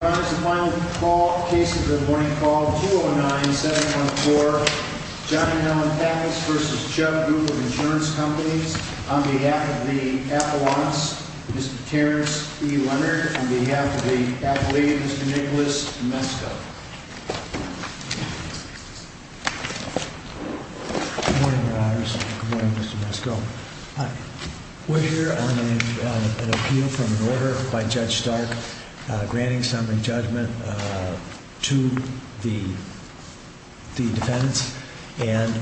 The final call, case of the morning call, 209-714 Johnny Allen Pappas v. Chubb Group of Insurance Companies. On behalf of the affluence, Mr. Terrence E. Leonard. On behalf of the affiliate, Mr. Nicholas Mesko. Good morning, Your Honors. Good morning, Mr. Mesko. We're here on an appeal from an order by Judge Stark granting summary judgment to the defendants and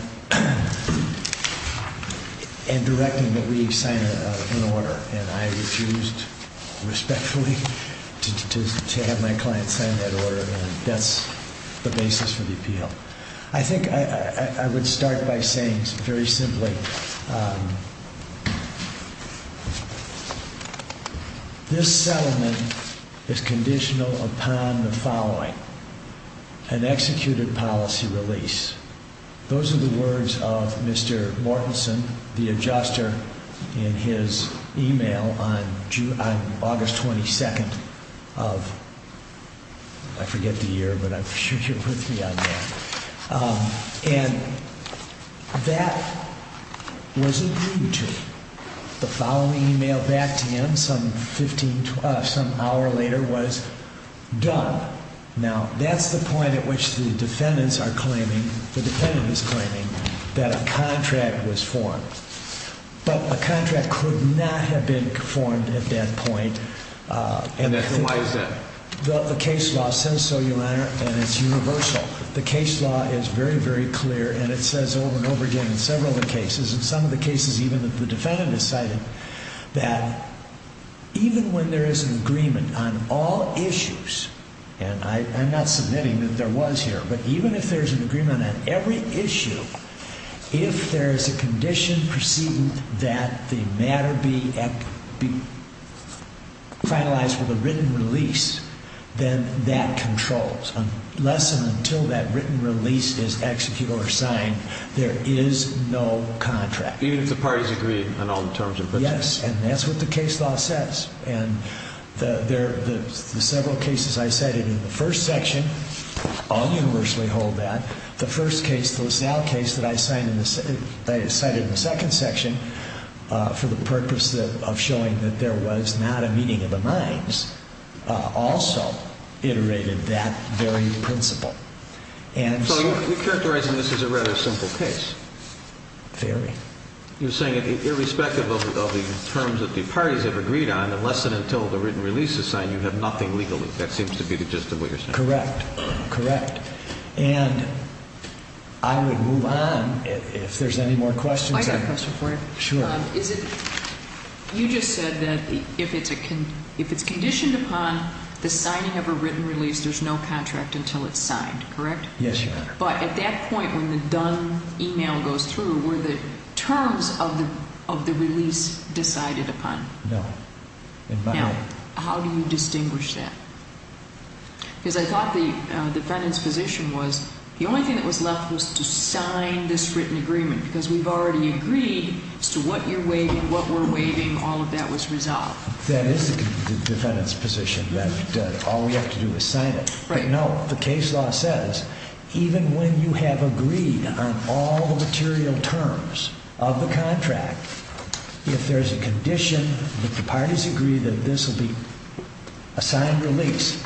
directing that we sign an order. And I refused respectfully to have my client sign that order and that's the basis for the appeal. I think I would start by saying very simply, this settlement is conditional upon the following, an executed policy release. Those are the words of Mr. Mortenson, the adjuster, in his email on August 22nd of, I forget the year, but I'm sure you're with me on that. And that was agreed to. The following email back to him some hour later was done. Now, that's the point at which the defendants are claiming, the defendant is claiming, that a contract was formed. But a contract could not have been formed at that point. And why is that? The case law says so, Your Honor, and it's universal. The case law is very, very clear and it says over and over again in several of the cases, in some of the cases even that the defendant has cited, that even when there is an agreement on all issues, and I'm not submitting that there was here, but even if there's an agreement on every issue, if there is a condition proceeding that the matter be finalized with a written release, then that controls unless and until that written release is executed or signed, there is no contract. Even if the parties agree on all the terms and conditions? Yes, and that's what the case law says. And the several cases I cited in the first section all universally hold that. The first case, the LaSalle case that I cited in the second section, for the purpose of showing that there was not a meeting of the minds, also iterated that very principle. So you're characterizing this as a rather simple case. Very. You're saying that irrespective of the terms that the parties have agreed on, unless and until the written release is signed, you have nothing legally. That seems to be the gist of what you're saying. Correct, correct. And I would move on if there's any more questions. I've got a question for you. Sure. You just said that if it's conditioned upon the signing of a written release, there's no contract until it's signed, correct? Yes, Your Honor. But at that point when the done email goes through, were the terms of the release decided upon? No. Now, how do you distinguish that? Because I thought the defendant's position was the only thing that was left was to sign this written agreement because we've already agreed as to what you're waiving, what we're waiving, all of that was resolved. That is the defendant's position that all we have to do is sign it. Right. No, the case law says even when you have agreed on all the material terms of the contract, if there's a condition that the parties agree that this will be a signed release,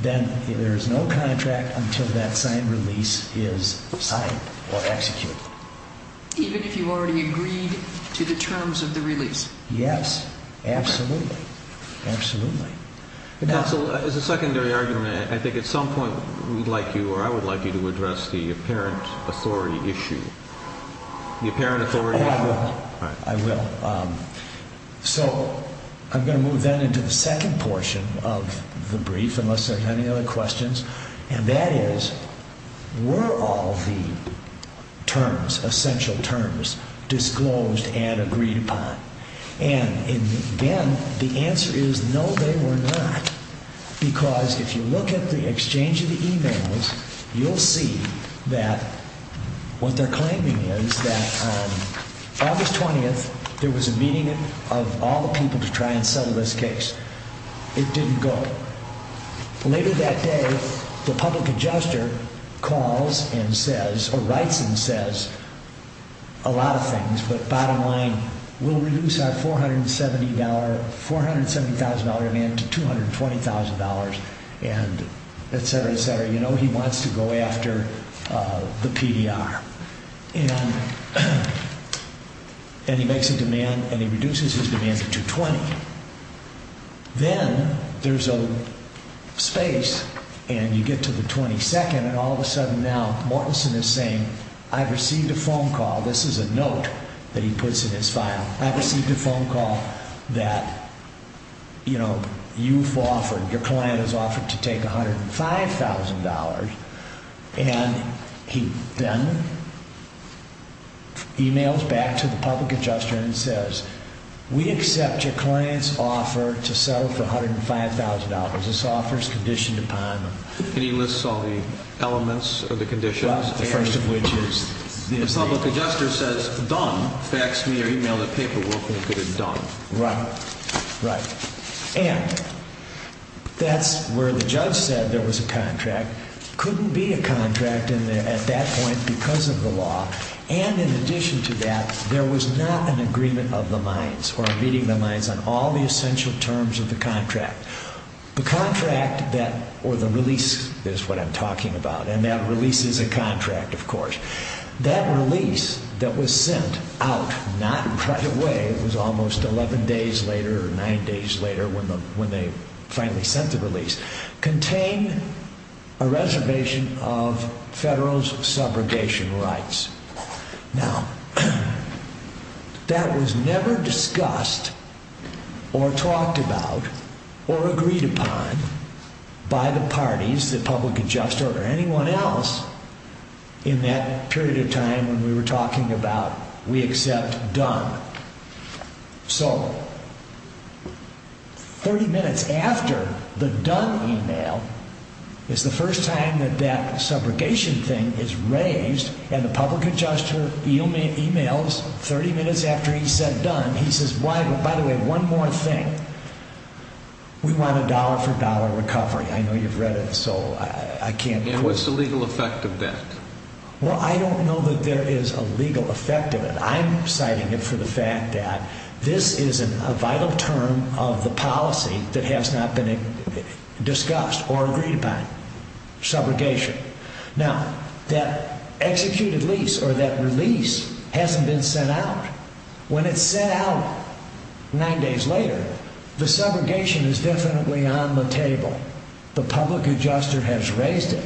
then there's no contract until that signed release is signed or executed. Even if you've already agreed to the terms of the release? Yes, absolutely. Absolutely. As a secondary argument, I think at some point we'd like you or I would like you to address the apparent authority issue. The apparent authority issue. I will. So I'm going to move then into the second portion of the brief, unless there are any other questions, and that is were all the terms, essential terms, disclosed and agreed upon? And again, the answer is no, they were not, because if you look at the exchange of the emails, you'll see that what they're claiming is that on August 20th, there was a meeting of all the people to try and settle this case. It didn't go. Later that day, the public adjuster calls and says or writes and says a lot of things, but bottom line, we'll reduce our $470,000 amount to $220,000 and et cetera, et cetera. You know, he wants to go after the PDR, and he makes a demand and he reduces his demand to $220,000. Then there's a space and you get to the 22nd and all of a sudden now Mortenson is saying, I've received a phone call, this is a note that he puts in his file, I've received a phone call that, you know, you've offered, your client has offered to take $105,000, and he then emails back to the public adjuster and says, we accept your client's offer to settle for $105,000. This offer is conditioned upon them. And he lists all the elements of the conditions, the first of which is this. The public adjuster says, done, faxed me or emailed a paperwork and could have done. Right, right. And that's where the judge said there was a contract. Couldn't be a contract at that point because of the law. And in addition to that, there was not an agreement of the minds or meeting the minds on all the essential terms of the contract. The contract that, or the release is what I'm talking about, and that release is a contract, of course. That release that was sent out, not right away, it was almost 11 days later or nine days later when they finally sent the release, contained a reservation of federal's subrogation rights. Now, that was never discussed or talked about or agreed upon by the parties, the public adjuster or anyone else in that period of time when we were talking about we accept done. So 30 minutes after the done email is the first time that that subrogation thing is raised and the public adjuster emails 30 minutes after he said done, he says, by the way, one more thing. We want a dollar for dollar recovery. I know you've read it, so I can't. And what's the legal effect of that? Well, I don't know that there is a legal effect of it. I'm citing it for the fact that this is a vital term of the policy that has not been discussed or agreed upon, subrogation. Now, that executed lease or that release hasn't been sent out. When it's sent out nine days later, the subrogation is definitely on the table. The public adjuster has raised it,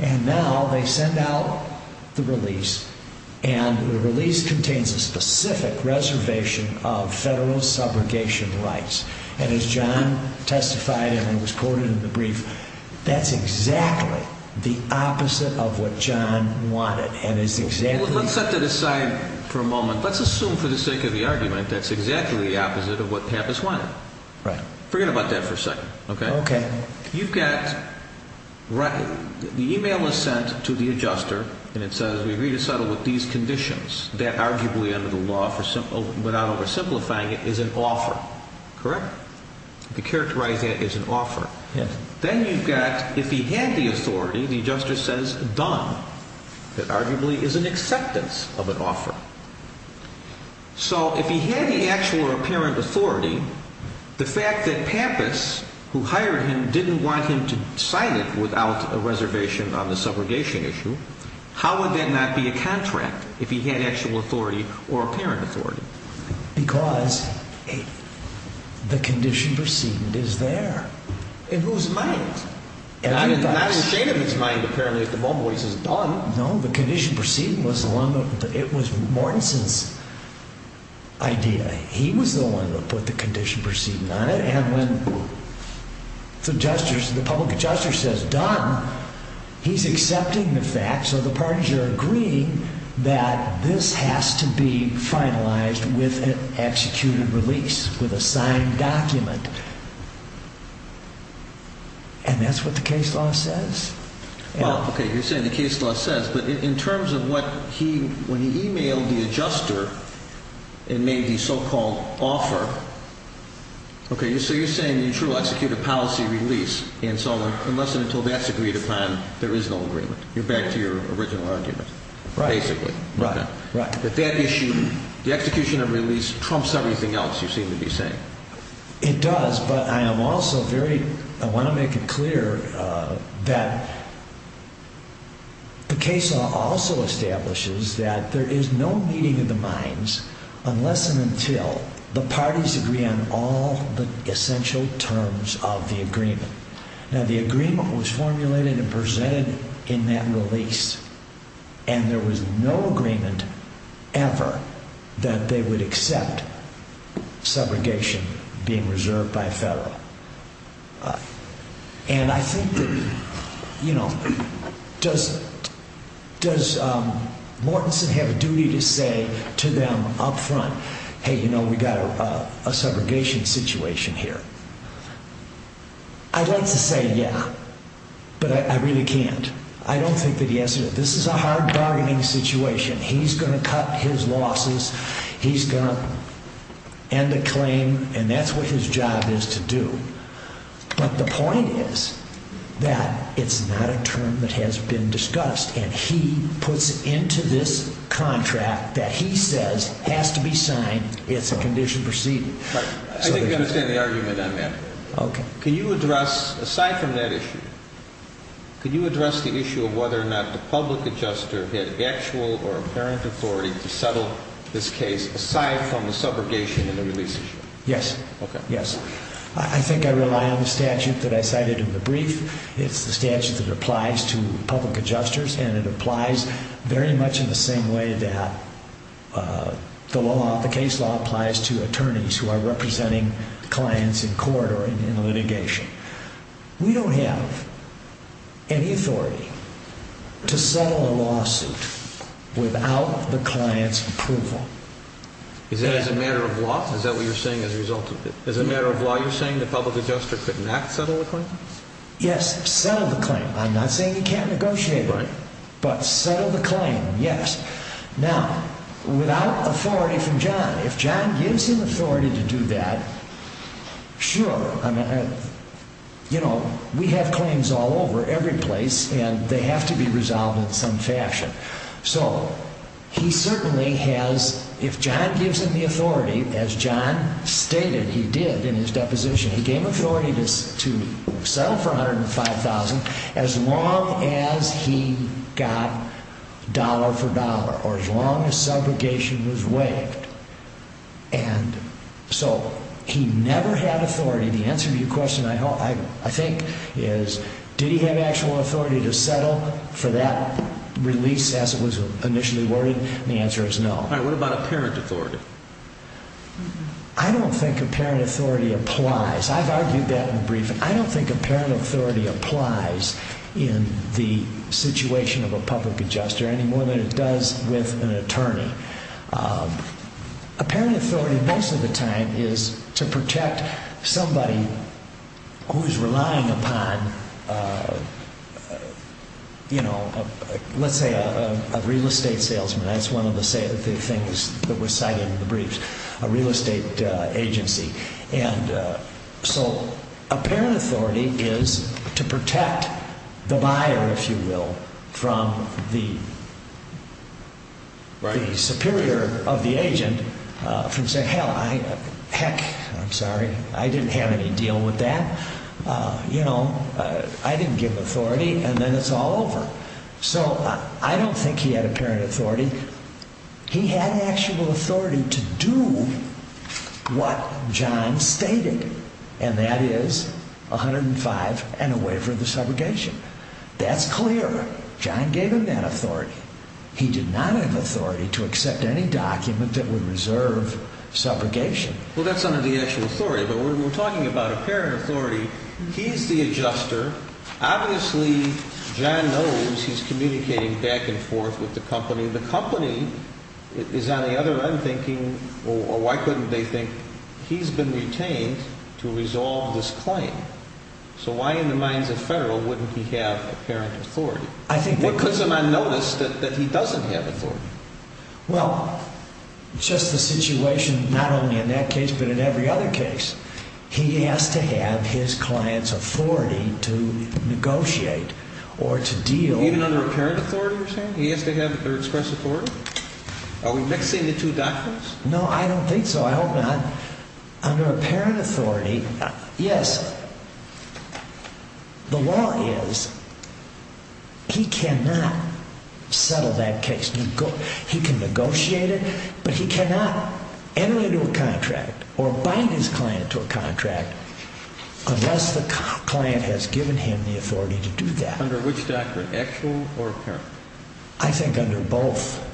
and now they send out the release, and the release contains a specific reservation of federal's subrogation rights. And as John testified, and it was quoted in the brief, that's exactly the opposite of what John wanted. Let's set that aside for a moment. Let's assume for the sake of the argument that's exactly the opposite of what Pappas wanted. Forget about that for a second. Okay. You've got the email was sent to the adjuster, and it says we agree to settle with these conditions. That arguably under the law, without oversimplifying it, is an offer. Correct? You characterize that as an offer. Yes. Then you've got if he had the authority, the adjuster says done. That arguably is an acceptance of an offer. So if he had the actual or apparent authority, the fact that Pappas, who hired him, didn't want him to sign it without a reservation on the subrogation issue, how would that not be a contract if he had actual authority or apparent authority? Because the condition perceived is there. In whose mind? Not in the state of his mind, apparently, at the moment when he says done. No, the condition perceived was along with Mortensen's idea. He was the one that put the condition perceived on it. And when the public adjuster says done, he's accepting the fact, so the parties are agreeing that this has to be finalized with an executed release, with a signed document, and that's what the case law says. Well, okay, you're saying the case law says, but in terms of what he, when he emailed the adjuster and made the so-called offer, okay, so you're saying an executed policy release and so on, unless and until that's agreed upon, there is no agreement. You're back to your original argument, basically. Right, right. The execution of release trumps everything else you seem to be saying. It does, but I am also very, I want to make it clear that the case law also establishes that there is no meeting of the minds unless and until the parties agree on all the essential terms of the agreement. Now, the agreement was formulated and presented in that release, and there was no agreement ever that they would accept subrogation being reserved by federal. And I think that, you know, does Mortenson have a duty to say to them up front, hey, you know, we've got a subrogation situation here? I'd like to say yeah, but I really can't. I don't think that he has to. This is a hard bargaining situation. He's going to cut his losses. He's going to end the claim, and that's what his job is to do. But the point is that it's not a term that has been discussed, and he puts into this contract that he says has to be signed. It's a condition proceeding. I think I understand the argument on that. Okay. Can you address, aside from that issue, can you address the issue of whether or not the public adjuster had actual or apparent authority to settle this case aside from the subrogation and the release issue? Yes. Okay. Yes. I think I rely on the statute that I cited in the brief. It's the statute that applies to public adjusters, and it applies very much in the same way that the case law applies to attorneys who are representing clients in court or in litigation. We don't have any authority to settle a lawsuit without the client's approval. Is that as a matter of law? Is that what you're saying as a result of it? As a matter of law, you're saying the public adjuster could not settle the claim? Yes, settle the claim. I'm not saying he can't negotiate, but settle the claim, yes. Now, without authority from John, if John gives him authority to do that, sure. You know, we have claims all over, every place, and they have to be resolved in some fashion. So he certainly has, if John gives him the authority, as John stated he did in his deposition, he gave him authority to settle for $105,000 as long as he got dollar for dollar or as long as subrogation was waived. And so he never had authority. The answer to your question, I think, is did he have actual authority to settle for that release as it was initially worded? And the answer is no. All right, what about apparent authority? I don't think apparent authority applies. I've argued that in a briefing. I don't think apparent authority applies in the situation of a public adjuster any more than it does with an attorney. Apparent authority most of the time is to protect somebody who is relying upon, you know, let's say a real estate salesman. That's one of the things that was cited in the briefs, a real estate agency. So apparent authority is to protect the buyer, if you will, from the superior of the agent from saying, hell, heck, I'm sorry, I didn't have any deal with that. You know, I didn't give authority, and then it's all over. So I don't think he had apparent authority. He had actual authority to do what John stated, and that is 105 and a waiver of the subrogation. That's clear. John gave him that authority. He did not have authority to accept any document that would reserve subrogation. Well, that's under the actual authority. But we're talking about apparent authority. He's the adjuster. Obviously, John knows he's communicating back and forth with the company. The company is on the other end thinking, well, why couldn't they think he's been retained to resolve this claim? So why in the minds of Federal wouldn't he have apparent authority? What puts him on notice that he doesn't have authority? Well, it's just the situation not only in that case but in every other case. He has to have his client's authority to negotiate or to deal. Even under apparent authority, you're saying? He has to have their express authority? Are we mixing the two doctrines? No, I don't think so. I hope not. Under apparent authority, yes, the law is he cannot settle that case. He can negotiate it, but he cannot enter into a contract or bind his client to a contract unless the client has given him the authority to do that. Under which doctrine, actual or apparent? I think under both.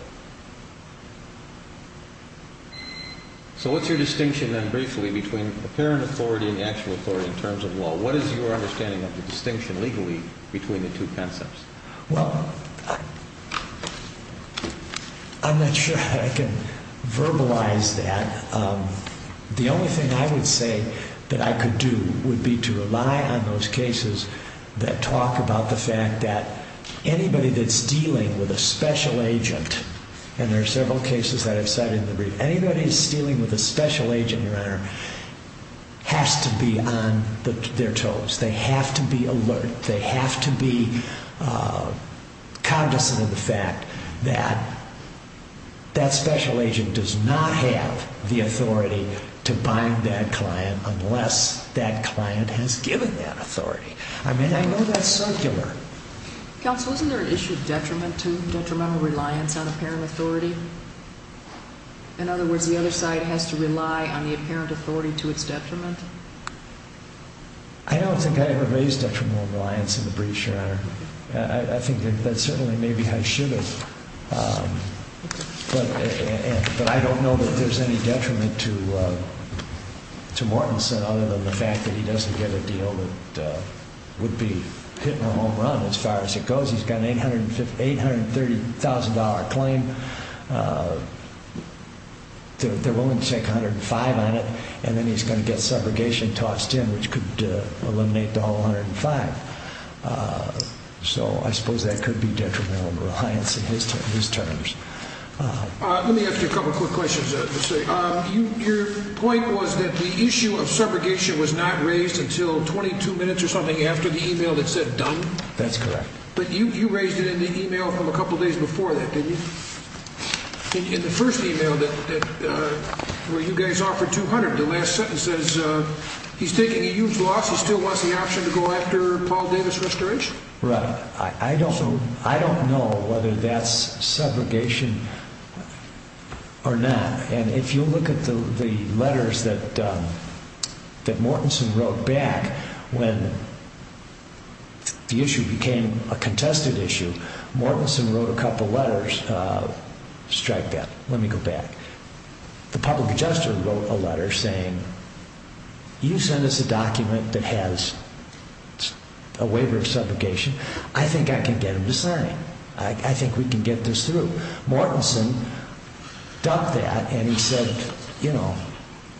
So what's your distinction then briefly between apparent authority and actual authority in terms of law? What is your understanding of the distinction legally between the two concepts? Well, I'm not sure I can verbalize that. The only thing I would say that I could do would be to rely on those cases that talk about the fact that anybody that's dealing with a special agent, and there are several cases that I've cited in the brief, anybody that's dealing with a special agent, Your Honor, has to be on their toes. They have to be alert. They have to be cognizant of the fact that that special agent does not have the authority to bind that client unless that client has given that authority. I mean, I know that's circular. Counsel, isn't there an issue of detriment to detrimental reliance on apparent authority? In other words, the other side has to rely on the apparent authority to its detriment? I don't think I ever raised detrimental reliance in the brief, Your Honor. I think that certainly maybe I should have. But I don't know that there's any detriment to Mortensen other than the fact that he doesn't get a deal that would be hitting a home run as far as it goes. He's got an $830,000 claim. They're willing to take $105,000 on it, and then he's going to get subrogation tossed in, which could eliminate the whole $105,000. So I suppose that could be detrimental reliance in his terms. Let me ask you a couple of quick questions. Your point was that the issue of subrogation was not raised until 22 minutes or something after the email that said done? That's correct. But you raised it in the email from a couple of days before that, didn't you? In the first email where you guys offered $200,000, the last sentence says he's taking a huge loss. He still wants the option to go after Paul Davis restoration? Right. I don't know whether that's subrogation or not. And if you look at the letters that Mortenson wrote back when the issue became a contested issue, Mortenson wrote a couple of letters. Strike that. Let me go back. The public adjuster wrote a letter saying, you sent us a document that has a waiver of subrogation. I think I can get him to sign. I think we can get this through. Mortenson ducked that and he said, you know,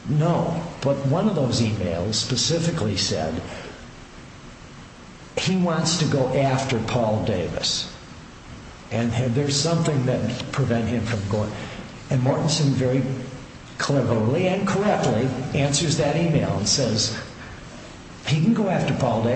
no. But one of those emails specifically said he wants to go after Paul Davis. And there's something that would prevent him from going. And Mortenson very cleverly and correctly answers that email and says he can go after Paul Davis.